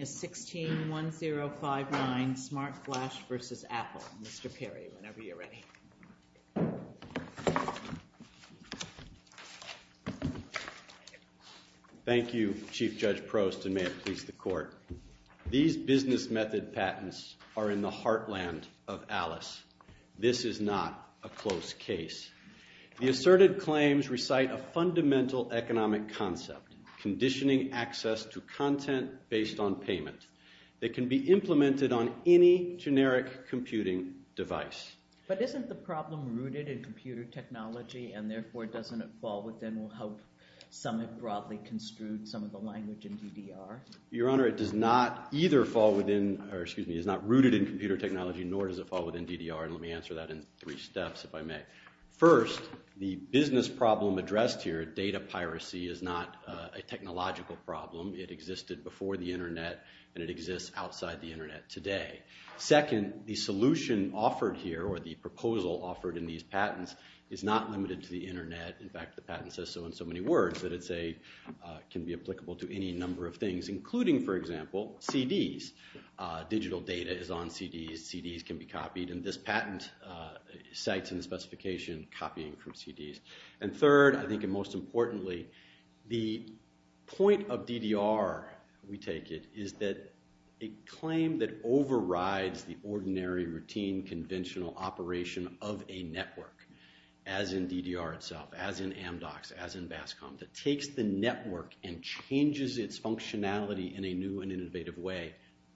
161059 Smartflash v. Apple. Mr. Perry, whenever you're ready. Thank you, Chief Judge Prost, and may it please the Court. These business method patents are in the heartland of Alice. This is not a close case. The asserted claims recite a fundamental economic concept, conditioning access to content based on payment, that can be implemented on any generic computing device. But isn't the problem rooted in computer technology, and therefore doesn't it fall within, we'll hope some have broadly construed some of the language in DDR? Your Honor, it does not either fall within, or excuse me, it's not rooted in computer technology, nor does it fall within DDR, and let me answer that in three steps, if I may. First, the business problem addressed here, data piracy, is not a technological problem. It existed before the Internet, and it exists outside the Internet today. Second, the solution offered here, or the proposal offered in these patents, is not limited to the Internet. In fact, the patent says so in so many words that it can be applicable to any number of things, including, for example, CDs. Digital data is on CDs. CDs can be copied, and this patent cites in the specification copying from CDs. And third, I think, and most importantly, the point of DDR, we take it, is that a claim that overrides the ordinary, routine, conventional operation of a network, as in DDR itself, as in Amdocs, as in BASCOM, that takes the network and changes its functionality in a new and innovative way,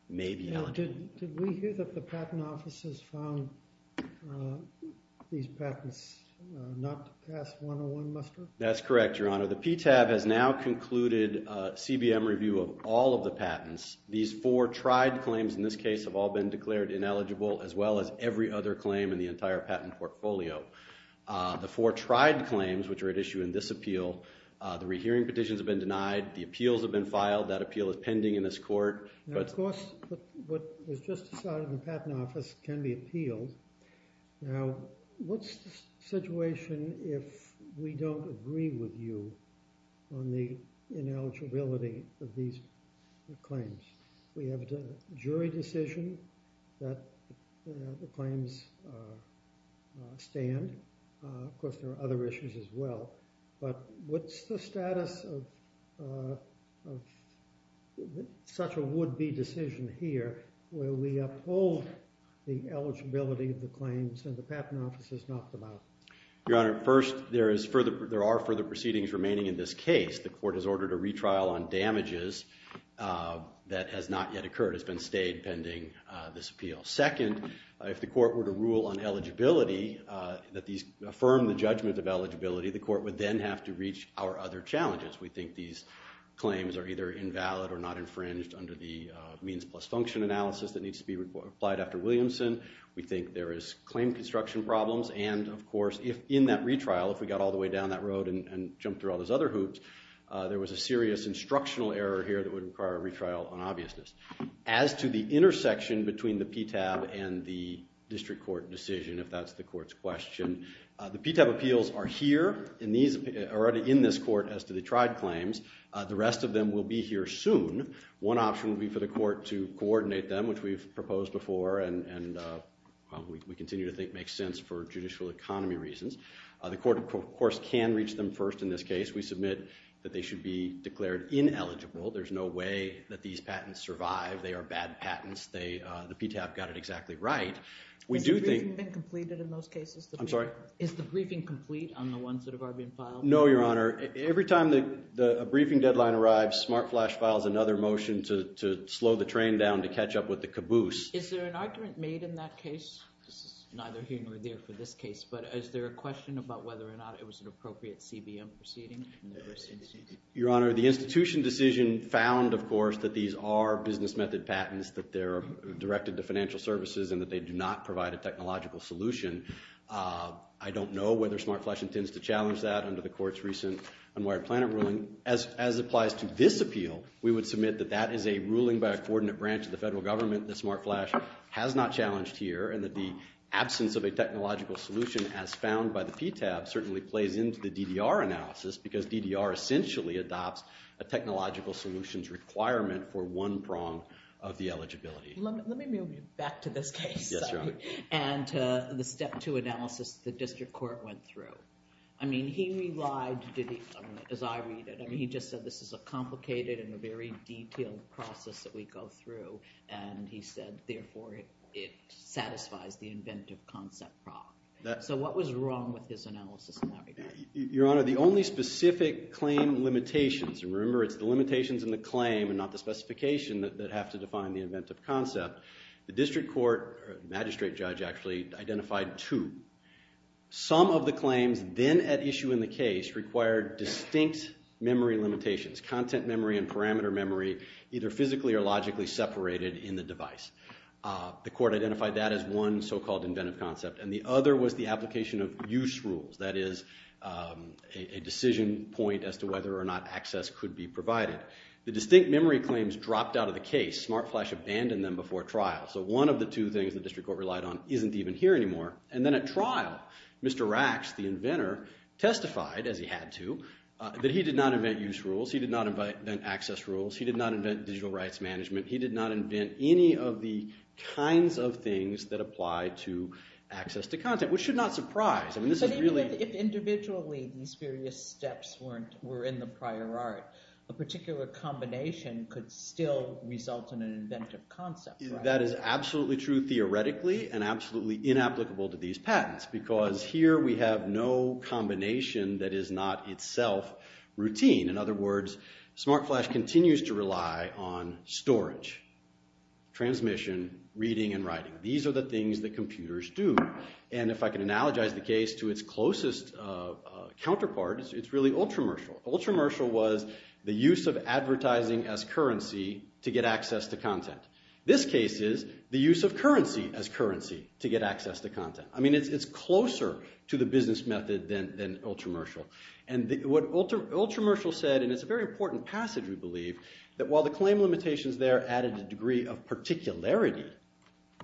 may be eligible. Did we hear that the patent office has found these patents not to pass 101 muster? That's correct, Your Honor. The PTAB has now concluded CBM review of all of the patents. These four tried claims in this case have all been declared ineligible, as well as every other claim in the entire patent portfolio. The four tried claims, which are at issue in this appeal, the rehearing petitions have been denied, the appeals have been filed, that appeal is pending in this court. Now, of course, what was just decided in the patent office can be appealed. Now, what's the situation if we don't agree with you on the ineligibility of these claims? We have a jury decision that the claims stand. Of course, there are other issues as well. But what's the status of such a would-be decision here where we uphold the eligibility of the claims and the patent office has knocked them out? Your Honor, first, there are further proceedings remaining in this case. The court has ordered a retrial on damages that has not yet occurred. It's been stayed pending this appeal. Second, if the court were to rule on eligibility, that these affirm the judgment of eligibility, the court would then have to reach our other challenges. We think these claims are either invalid or not infringed under the means plus function analysis that needs to be applied after Williamson. We think there is claim construction problems. And, of course, in that retrial, if we got all the way down that road and jumped through all those other hoops, there was a serious instructional error here that would require a retrial on obviousness. As to the intersection between the PTAB and the district court decision, if that's the court's question, the PTAB appeals are here in this court as to the tried claims. The rest of them will be here soon. One option would be for the court to coordinate them, which we've proposed before and we continue to think makes sense for judicial economy reasons. The court, of course, can reach them first in this case. We submit that they should be declared ineligible. There's no way that these patents survive. They are bad patents. The PTAB got it exactly right. We do think— Has the briefing been completed in those cases? I'm sorry? Is the briefing complete on the ones that have already been filed? No, Your Honor. Every time a briefing deadline arrives, SmartFlash files another motion to slow the train down to catch up with the caboose. Is there an argument made in that case? This is neither here nor there for this case, but is there a question about whether or not it was an appropriate CBM proceeding? Your Honor, the institution decision found, of course, that these are business method patents, that they're directed to financial services, and that they do not provide a technological solution. I don't know whether SmartFlash intends to challenge that under the court's recent unwired plan of ruling. As applies to this appeal, we would submit that that is a ruling by a coordinate branch of the federal government that SmartFlash has not challenged here and that the absence of a technological solution as found by the PTAB certainly plays into the DDR analysis because DDR essentially adopts a technological solutions requirement for one prong of the eligibility. Let me move you back to this case. Yes, Your Honor. And the step two analysis the district court went through. I mean, he relied, as I read it, I mean, he just said this is a complicated and a very detailed process that we go through, and he said, therefore, it satisfies the inventive concept prong. So what was wrong with his analysis in that regard? Your Honor, the only specific claim limitations, and remember it's the limitations in the claim and not the specification that have to define the inventive concept, the district court, magistrate judge actually, identified two. Some of the claims then at issue in the case required distinct memory limitations, content memory and parameter memory, either physically or logically separated in the device. The court identified that as one so-called inventive concept, and the other was the application of use rules. That is a decision point as to whether or not access could be provided. The distinct memory claims dropped out of the case. SmartFlash abandoned them before trial. So one of the two things the district court relied on isn't even here anymore. And then at trial, Mr. Rax, the inventor, testified, as he had to, that he did not invent use rules. He did not invent access rules. He did not invent digital rights management. He did not invent any of the kinds of things that apply to access to content, which should not surprise. I mean, this is really— But even if individually these various steps were in the prior art, a particular combination could still result in an inventive concept, right? That is absolutely true theoretically and absolutely inapplicable to these patents because here we have no combination that is not itself routine. In other words, SmartFlash continues to rely on storage, transmission, reading and writing. These are the things that computers do. And if I can analogize the case to its closest counterpart, it's really Ultramershal. Ultramershal was the use of advertising as currency to get access to content. This case is the use of currency as currency to get access to content. I mean, it's closer to the business method than Ultramershal. And what Ultramershal said, and it's a very important passage we believe, that while the claim limitations there added a degree of particularity,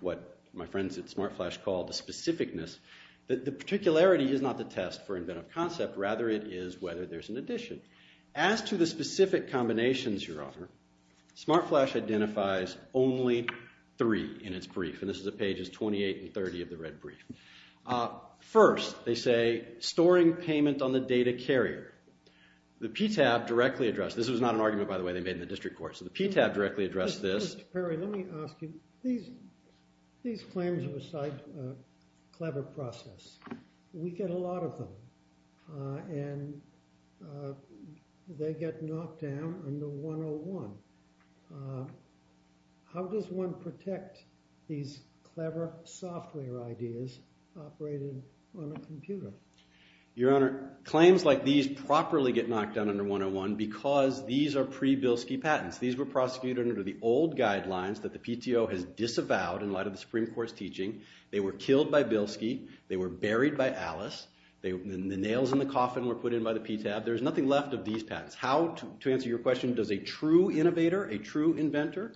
what my friends at SmartFlash call the specificness, that the particularity is not the test for inventive concept. Rather, it is whether there's an addition. As to the specific combinations, Your Honor, SmartFlash identifies only three in its brief. And this is at pages 28 and 30 of the red brief. First, they say storing payment on the data carrier. The PTAB directly addressed this. This was not an argument, by the way, they made in the district court. So the PTAB directly addressed this. Mr. Perry, let me ask you. These claims are a clever process. We get a lot of them. And they get knocked down under 101. How does one protect these clever software ideas operated on a computer? Your Honor, claims like these properly get knocked down under 101 because these are pre-Bilski patents. These were prosecuted under the old guidelines that the PTO has disavowed in light of the Supreme Court's teaching. They were killed by Bilski. They were buried by Alice. The nails in the coffin were put in by the PTAB. There's nothing left of these patents. How, to answer your question, does a true innovator, a true inventor,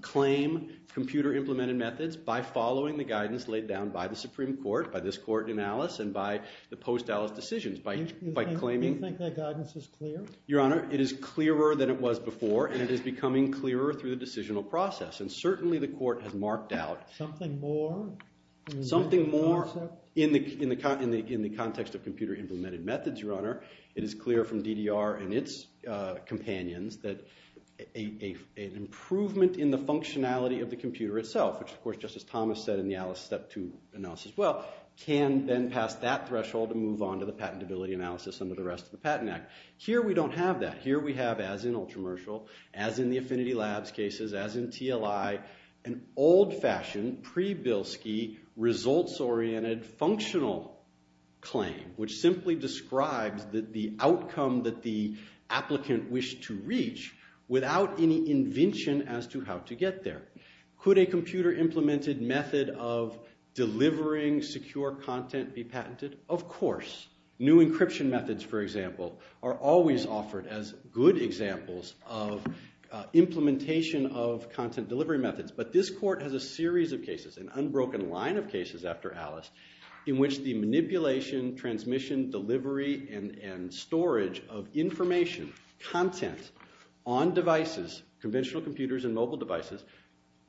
claim computer-implemented methods? By following the guidance laid down by the Supreme Court, by this court in Alice, and by the post-Alice decisions. Do you think that guidance is clear? Your Honor, it is clearer than it was before, and it is becoming clearer through the decisional process. And certainly the court has marked out something more in the context of computer-implemented methods, Your Honor. It is clear from DDR and its companions that an improvement in the functionality of the computer itself, which, of course, Justice Thomas said in the Alice Step 2 analysis as well, can then pass that threshold and move on to the patentability analysis under the rest of the Patent Act. Here we don't have that. Here we have, as in Ultramershal, as in the Affinity Labs cases, as in TLI, an old-fashioned, pre-Bilski, results-oriented, functional claim, which simply describes the outcome that the applicant wished to reach without any invention as to how to get there. Could a computer-implemented method of delivering secure content be patented? Of course. New encryption methods, for example, are always offered as good examples of implementation of content delivery methods. But this court has a series of cases, an unbroken line of cases after Alice, in which the manipulation, transmission, delivery, and storage of information, content, on devices, conventional computers and mobile devices,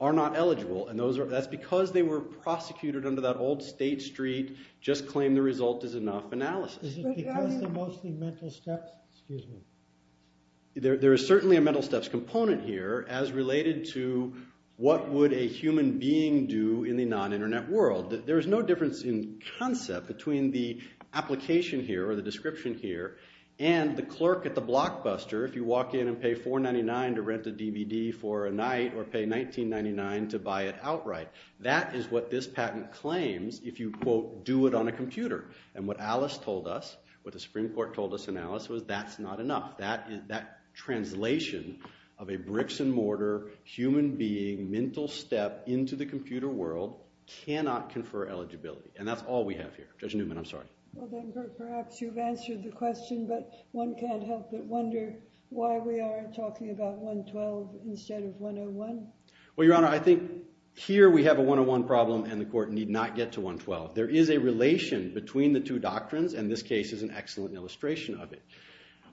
are not eligible. And that's because they were prosecuted under that old State Street, just-claim-the-result-is-enough analysis. Is it because they're mostly mental steps? Excuse me. There is certainly a mental steps component here as related to what would a human being do in the non-Internet world. There is no difference in concept between the application here or the description here and the clerk at the Blockbuster, if you walk in and pay $4.99 to rent a DVD for a night or pay $19.99 to buy it outright. That is what this patent claims if you, quote, do it on a computer. And what Alice told us, what the Supreme Court told us in Alice, was that's not enough. That translation of a bricks-and-mortar, human-being, mental step into the computer world cannot confer eligibility. And that's all we have here. Judge Newman, I'm sorry. Well, then, perhaps you've answered the question, but one can't help but wonder why we are talking about 112 instead of 101. Well, Your Honor, I think here we have a 101 problem and the court need not get to 112. There is a relation between the two doctrines, and this case is an excellent illustration of it.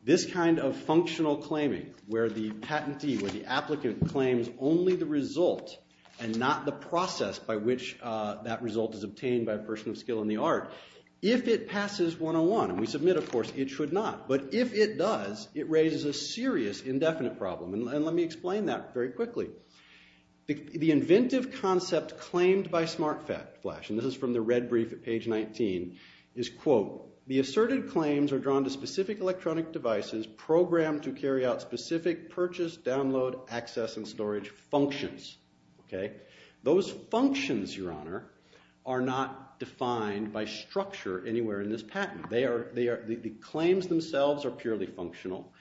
This kind of functional claiming where the patentee, where the applicant claims only the result and not the process by which that result is obtained by a person of skill in the art, if it passes 101, and we submit, of course, it should not, but if it does, it raises a serious indefinite problem. And let me explain that very quickly. The inventive concept claimed by SmartFlash, and this is from the red brief at page 19, is, quote, the asserted claims are drawn to specific electronic devices programmed to carry out specific purchase, download, access, and storage functions. Those functions, Your Honor, are not defined by structure anywhere in this patent. The claims themselves are purely functional.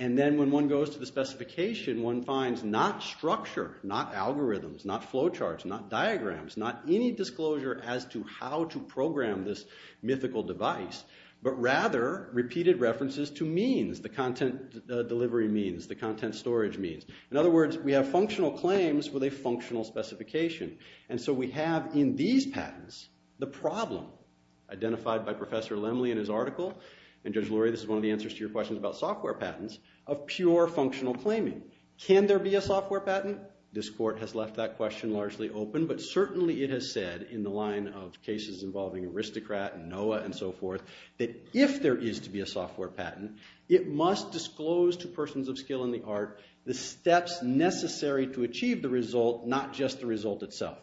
And then when one goes to the specification, one finds not structure, not algorithms, not flow charts, not diagrams, not any disclosure as to how to program this mythical device, but rather repeated references to means, the content delivery means, the content storage means. In other words, we have functional claims with a functional specification. And so we have in these patents the problem identified by Professor Lemley in his article, and Judge Lurie, this is one of the answers to your questions about software patents, of pure functional claiming. Can there be a software patent? This court has left that question largely open, but certainly it has said in the line of cases involving Aristocrat and NOAA and so forth that if there is to be a software patent, it must disclose to persons of skill in the art the steps necessary to achieve the result, not just the result itself.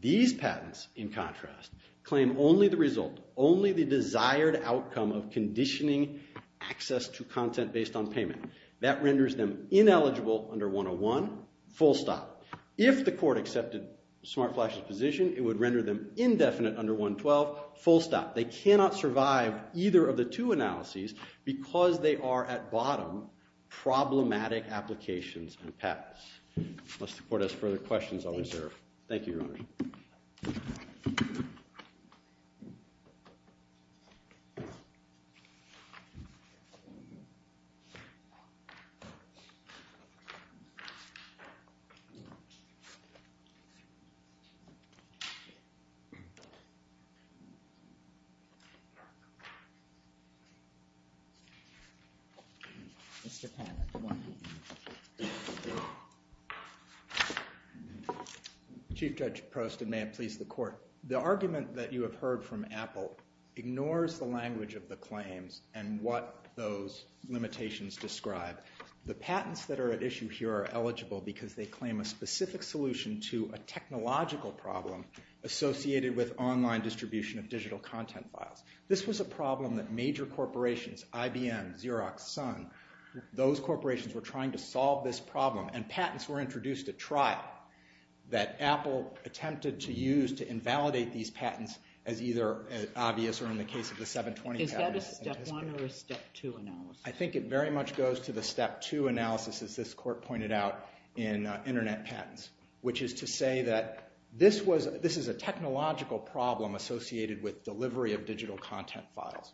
These patents, in contrast, claim only the result, only the desired outcome of conditioning access to content based on payment. That renders them ineligible under 101, full stop. If the court accepted SmartFlash's position, it would render them indefinite under 112, full stop. They cannot survive either of the two analyses because they are, at bottom, problematic applications and patents. Unless the court has further questions, I'll reserve. Mr. Patent. Chief Judge Prost, and may it please the court. The argument that you have heard from Apple ignores the language of the claims and what those limitations describe. The patents that are at issue here are eligible because they claim a specific solution to a technological problem associated with online distribution of digital content files. This was a problem that major corporations, IBM, Xerox, Sun, those corporations were trying to solve this problem and patents were introduced at trial that Apple attempted to use to invalidate these patents as either obvious or in the case of the 720 patents. Is that a step one or a step two analysis? I think it very much goes to the step two analysis as this court pointed out in Internet Patents, which is to say that this is a technological problem associated with delivery of digital content files.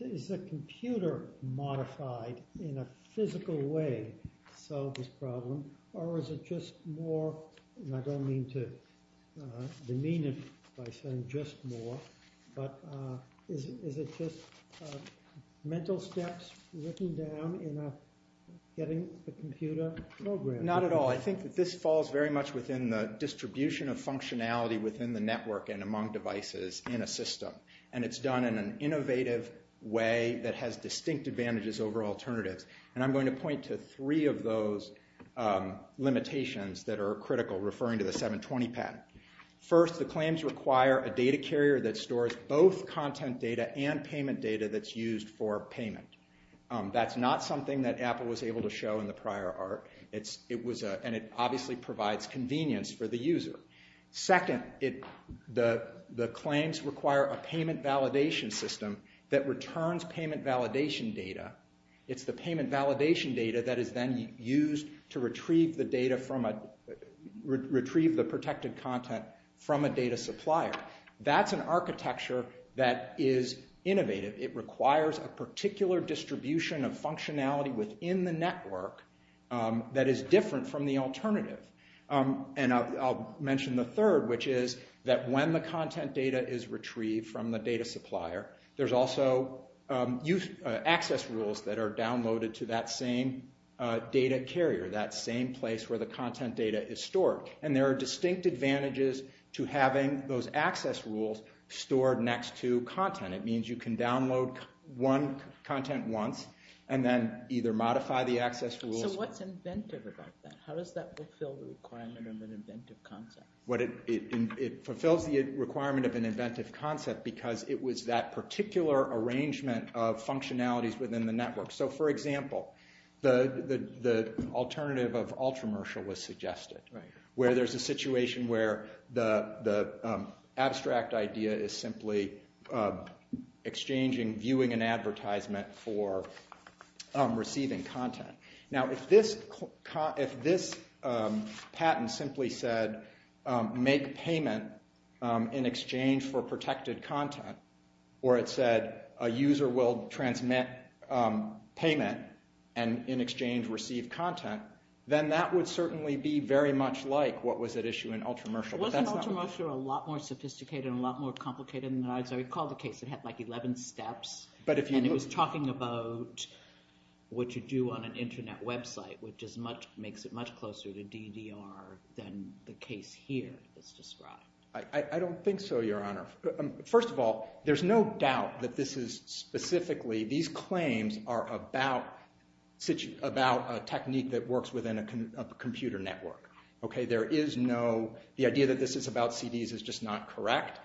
Is the computer modified in a physical way to solve this problem or is it just more, and I don't mean to demean it by saying just more, but is it just mental steps written down in getting the computer programmed? Not at all. I think that this falls very much within the distribution of functionality within the network and among devices in a system. And it's done in an innovative way that has distinct advantages over alternatives. And I'm going to point to three of those limitations that are critical referring to the 720 patent. First, the claims require a data carrier that stores both content data and payment data that's used for payment. That's not something that Apple was able to show in the prior art. And it obviously provides convenience for the user. Second, the claims require a payment validation system that returns payment validation data. It's the payment validation data that is then used to retrieve the protected content from a data supplier. That's an architecture that is innovative. It requires a particular distribution of functionality within the network that is different from the alternative. And I'll mention the third, which is that when the content data is retrieved from the data supplier, there's also access rules that are downloaded to that same data carrier, that same place where the content data is stored. And there are distinct advantages to having those access rules stored next to content. It means you can download one content once and then either modify the access rules. So what's inventive about that? How does that fulfill the requirement of an inventive concept? It fulfills the requirement of an inventive concept because it was that particular arrangement of functionalities within the network. So, for example, the alternative of ultramercial was suggested, where there's a situation where the abstract idea is simply exchanging, viewing an advertisement for receiving content. Now, if this patent simply said, make payment in exchange for protected content, or it said a user will transmit payment and in exchange receive content, then that would certainly be very much like what was at issue in ultramercial. Wasn't ultramercial a lot more sophisticated and a lot more complicated than that? I recall the case that had like 11 steps, and it was talking about what to do on an Internet website, which makes it much closer to DDR than the case here is described. I don't think so, Your Honor. First of all, there's no doubt that this is specifically, these claims are about a technique that works within a computer network. The idea that this is about CDs is just not correct.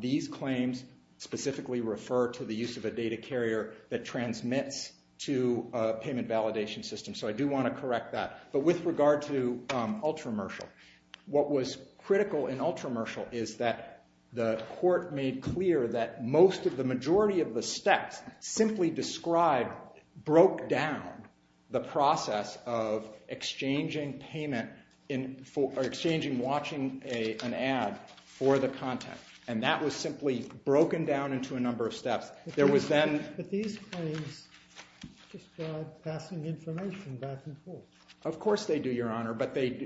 These claims specifically refer to the use of a data carrier that transmits to a payment validation system. So I do want to correct that. But with regard to ultramercial, what was critical in ultramercial is that the court made clear that most of the majority of the steps simply described broke down the process of exchanging payment, or exchanging watching an ad for the content. And that was simply broken down into a number of steps. But these claims describe passing information back and forth. Of course they do, Your Honor, but they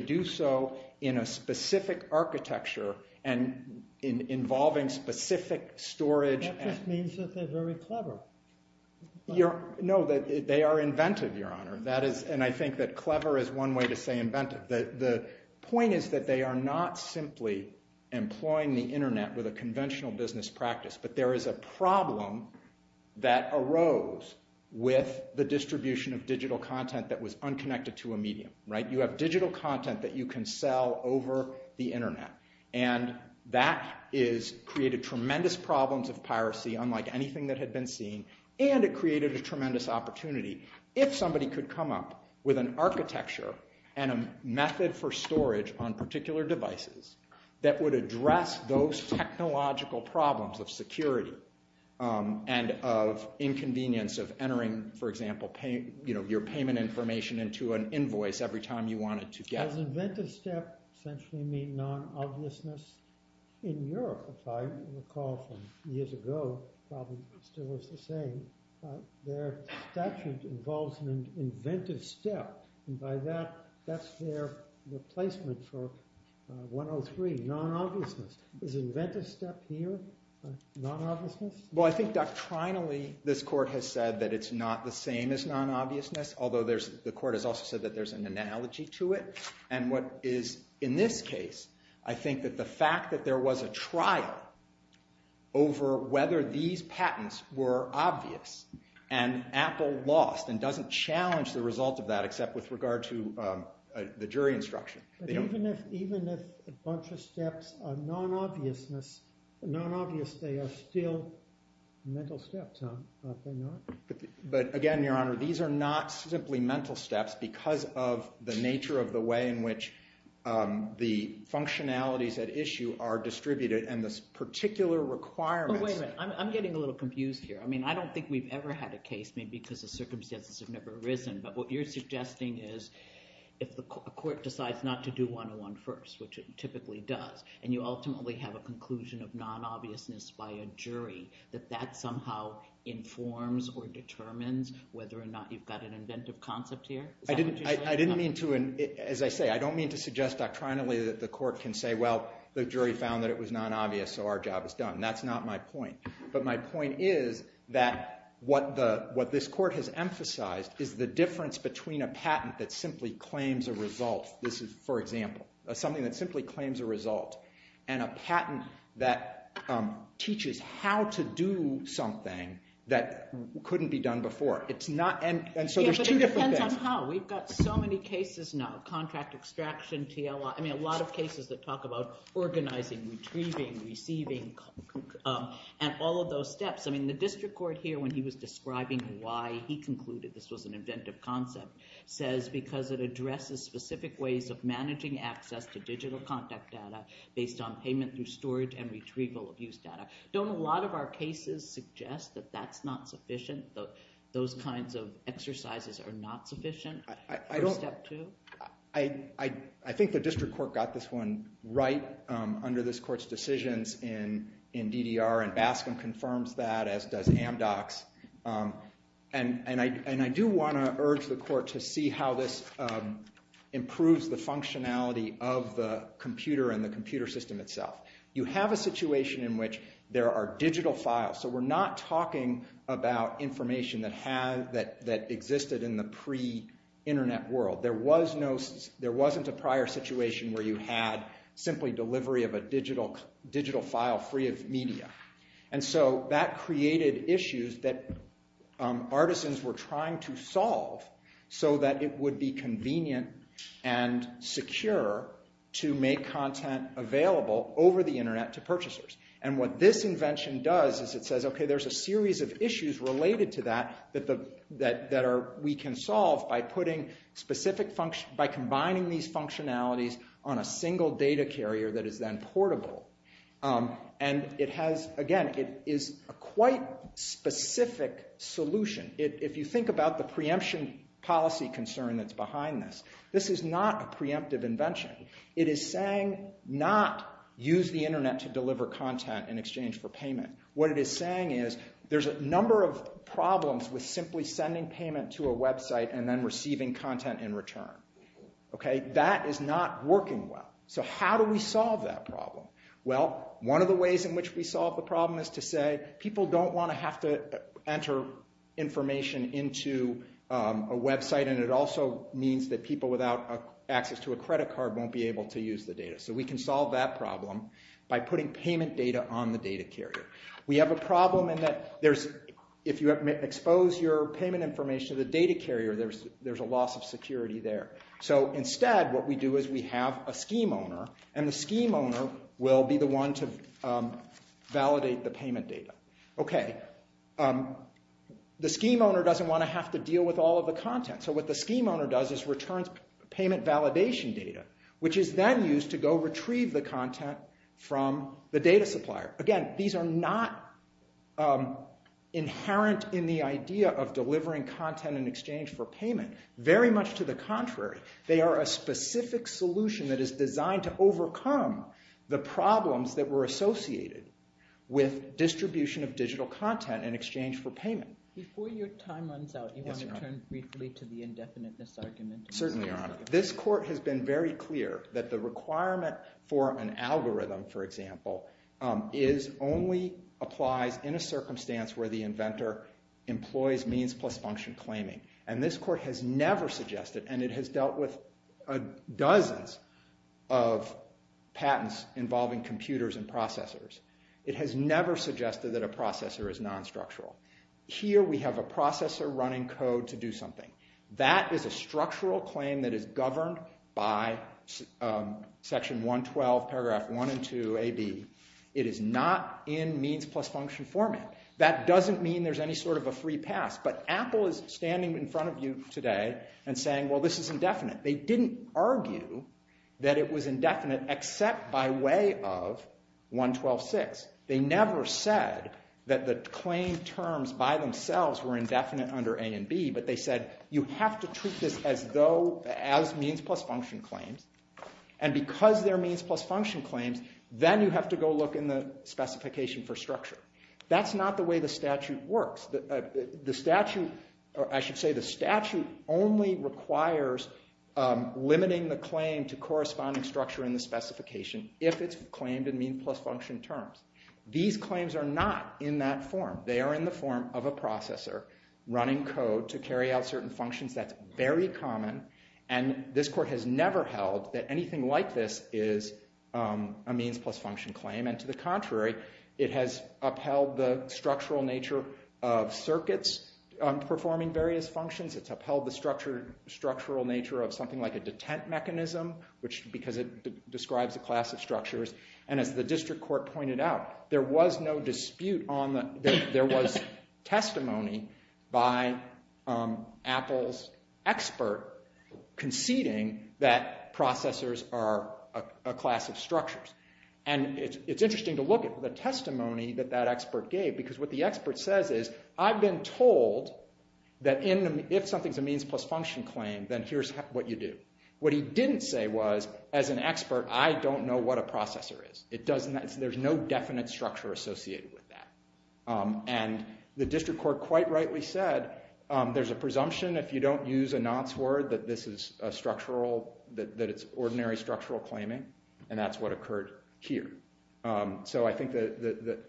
do so in a specific architecture and involving specific storage. That just means that they're very clever. No, they are inventive, Your Honor. And I think that clever is one way to say inventive. The point is that they are not simply employing the Internet with a conventional business practice, but there is a problem that arose with the distribution of digital content that was unconnected to a medium. You have digital content that you can sell over the Internet. And that created tremendous problems of piracy, unlike anything that had been seen. And it created a tremendous opportunity. If somebody could come up with an architecture and a method for storage on particular devices that would address those technological problems of security and of inconvenience of entering, for example, your payment information into an invoice every time you wanted to get it. Does inventive step essentially mean non-obviousness? In Europe, if I recall from years ago, it probably still was the same. Their statute involves an inventive step. And by that, that's their replacement for 103, non-obviousness. Is inventive step here non-obviousness? Well, I think doctrinally this court has said that it's not the same as non-obviousness, although the court has also said that there's an analogy to it. And what is in this case, I think that the fact that there was a trial over whether these patents were obvious and Apple lost and doesn't challenge the result of that except with regard to the jury instruction. Even if a bunch of steps are non-obviousness, non-obvious, they are still mental steps, are they not? But again, Your Honor, these are not simply mental steps because of the nature of the way in which the functionalities at issue are distributed and this particular requirement. Wait a minute. I'm getting a little confused here. I mean, I don't think we've ever had a case maybe because the circumstances have never arisen. But what you're suggesting is if the court decides not to do 101 first, which it typically does, and you ultimately have a conclusion of non-obviousness by a jury, that that somehow informs or determines whether or not you've got an inventive concept here? I didn't mean to – as I say, I don't mean to suggest doctrinally that the court can say, well, the jury found that it was non-obvious, so our job is done. That's not my point. But my point is that what this court has emphasized is the difference between a patent that simply claims a result. This is, for example, something that simply claims a result, and a patent that teaches how to do something that couldn't be done before. It's not – and so there's two different things. Yeah, but it depends on how. We've got so many cases now, contract extraction, TLA. I mean, a lot of cases that talk about organizing, retrieving, receiving, and all of those steps. I mean, the district court here, when he was describing why he concluded this was an inventive concept, says because it addresses specific ways of managing access to digital contact data based on payment through storage and retrieval of used data. Don't a lot of our cases suggest that that's not sufficient, that those kinds of exercises are not sufficient for step two? I think the district court got this one right under this court's decisions in DDR, and Bascom confirms that, as does Amdocs. And I do want to urge the court to see how this improves the functionality of the computer and the computer system itself. You have a situation in which there are digital files, so we're not talking about information that existed in the pre-internet world. There wasn't a prior situation where you had simply delivery of a digital file free of media. And so that created issues that artisans were trying to solve so that it would be convenient and secure to make content available over the internet to purchasers. And what this invention does is it says, okay, there's a series of issues related to that that we can solve by combining these functionalities on a single data carrier that is then portable. Again, it is a quite specific solution. If you think about the preemption policy concern that's behind this, this is not a preemptive invention. It is saying not use the internet to deliver content in exchange for payment. What it is saying is there's a number of problems with simply sending payment to a website and then receiving content in return. That is not working well. So how do we solve that problem? Well, one of the ways in which we solve the problem is to say people don't want to have to enter information into a website, and it also means that people without access to a credit card won't be able to use the data. So we can solve that problem by putting payment data on the data carrier. We have a problem in that if you expose your payment information to the data carrier, there's a loss of security there. So instead, what we do is we have a scheme owner, and the scheme owner will be the one to validate the payment data. The scheme owner doesn't want to have to deal with all of the content, so what the scheme owner does is returns payment validation data, which is then used to go retrieve the content from the data supplier. Again, these are not inherent in the idea of delivering content in exchange for payment. Very much to the contrary, they are a specific solution that is designed to overcome the problems that were associated with distribution of digital content in exchange for payment. Before your time runs out, you want to turn briefly to the indefiniteness argument. Certainly, Your Honor. This Court has been very clear that the requirement for an algorithm, for example, only applies in a circumstance where the inventor employs means plus function claiming. This Court has never suggested, and it has dealt with dozens of patents involving computers and processors, it has never suggested that a processor is non-structural. Here, we have a processor running code to do something. That is a structural claim that is governed by Section 112, Paragraph 1 and 2 AB. It is not in means plus function format. That doesn't mean there's any sort of a free pass, but Apple is standing in front of you today and saying, well, this is indefinite. They didn't argue that it was indefinite except by way of 112.6. They never said that the claim terms by themselves were indefinite under A and B, but they said you have to treat this as means plus function claims, and because they're means plus function claims, then you have to go look in the specification for structure. That's not the way the statute works. The statute only requires limiting the claim to corresponding structure in the specification if it's claimed in means plus function terms. These claims are not in that form. They are in the form of a processor running code to carry out certain functions. That's very common, and this court has never held that anything like this is a means plus function claim, and to the contrary, it has upheld the structural nature of circuits performing various functions. It's upheld the structural nature of something like a detent mechanism because it describes a class of structures, and as the district court pointed out, there was testimony by Apple's expert conceding that processors are a class of structures, and it's interesting to look at the testimony that that expert gave because what the expert says is I've been told that if something's a means plus function claim, then here's what you do. What he didn't say was as an expert, I don't know what a processor is. There's no definite structure associated with that, and the district court quite rightly said there's a presumption if you don't use a nonce word that this is ordinary structural claiming, and that's what occurred here. So I think,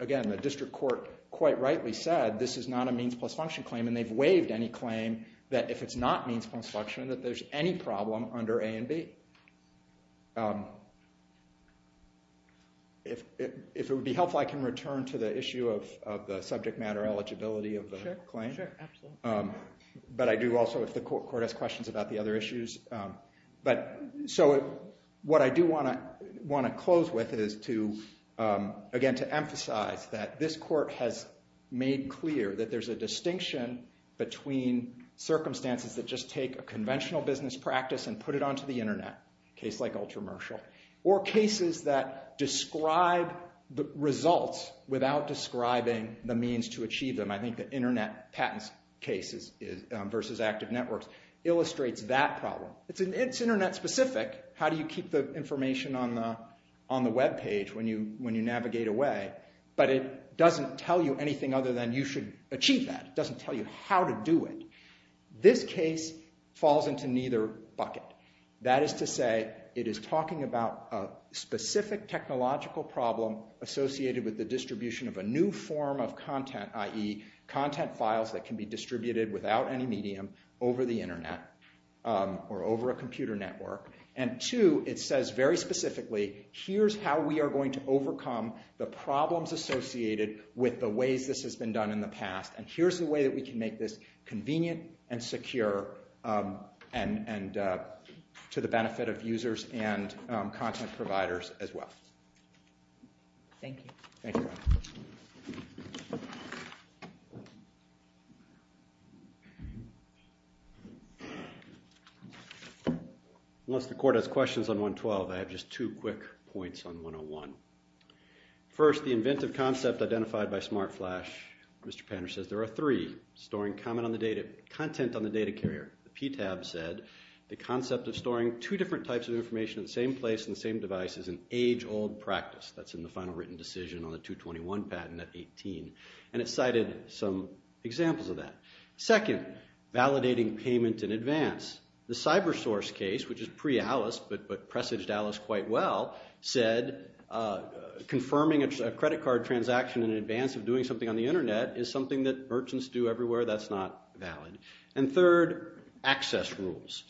again, the district court quite rightly said this is not a means plus function claim, and they've waived any claim that if it's not means plus function, that there's any problem under A and B. If it would be helpful, I can return to the issue of the subject matter eligibility of the claim. But I do also, if the court has questions about the other issues. So what I do want to close with is, again, to emphasize that this court has made clear that there's a distinction between circumstances that just take a conventional business practice and put it onto the Internet, a case like Ultramershal, or cases that describe the results without describing the means to achieve them. I think that Internet patents cases versus active networks illustrates that problem. It's Internet specific. How do you keep the information on the web page when you navigate away? But it doesn't tell you anything other than you should achieve that. It doesn't tell you how to do it. This case falls into neither bucket. That is to say, it is talking about a specific technological problem associated with the distribution of a new form of content, i.e., content files that can be distributed without any medium over the Internet or over a computer network. And two, it says very specifically, here's how we are going to overcome the problems associated with the ways this has been done in the past, and here's the way that we can make this convenient and secure and to the benefit of users and content providers as well. Thank you. Thank you. Unless the court has questions on 112, I have just two quick points on 101. First, the inventive concept identified by SmartFlash. Mr. Panter says there are three, storing content on the data carrier. The PTAB said the concept of storing two different types of information in the same place and the same device is an age-old practice. That's in the final written decision on the 221 patent at 18, and it cited some examples of that. Second, validating payment in advance. The CyberSource case, which is pre-ALICE but presaged ALICE quite well, said confirming a credit card transaction in advance of doing something on the Internet is something that merchants do everywhere. That's not valid. And third, access rules.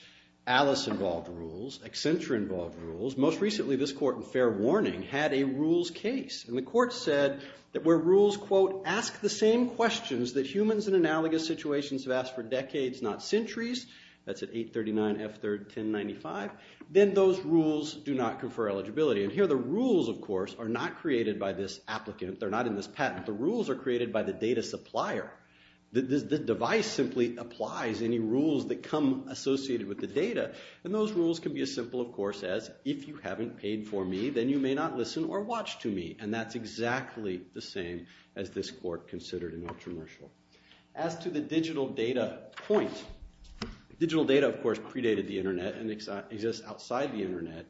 ALICE-involved rules, Accenture-involved rules, most recently this court in fair warning had a rules case, and the court said that where rules, quote, ask the same questions that humans in analogous situations have asked for decades, not centuries, that's at 839F31095, then those rules do not confer eligibility. And here the rules, of course, are not created by this applicant. They're not in this patent. The rules are created by the data supplier. The device simply applies any rules that come associated with the data, and those rules can be as simple, of course, as if you haven't paid for me, then you may not listen or watch to me, and that's exactly the same as this court considered an intromersial. As to the digital data point, digital data, of course, predated the Internet and exists outside the Internet,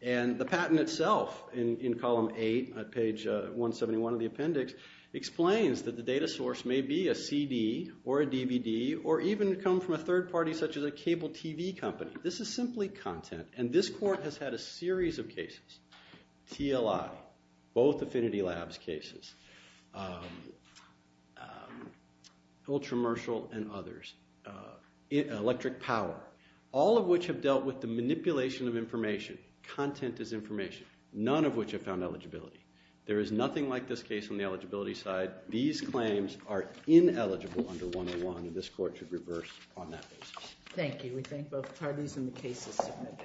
and the patent itself in column 8, page 171 of the appendix, explains that the data source may be a CD or a DVD or even come from a third party such as a cable TV company. This is simply content, and this court has had a series of cases, TLI, both Affinity Labs cases, intromersial and others, electric power, all of which have dealt with the manipulation of information. Content is information. None of which have found eligibility. There is nothing like this case on the eligibility side. These claims are ineligible under 101, and this court should reverse on that basis. Thank you. We thank both parties, and the case is submitted.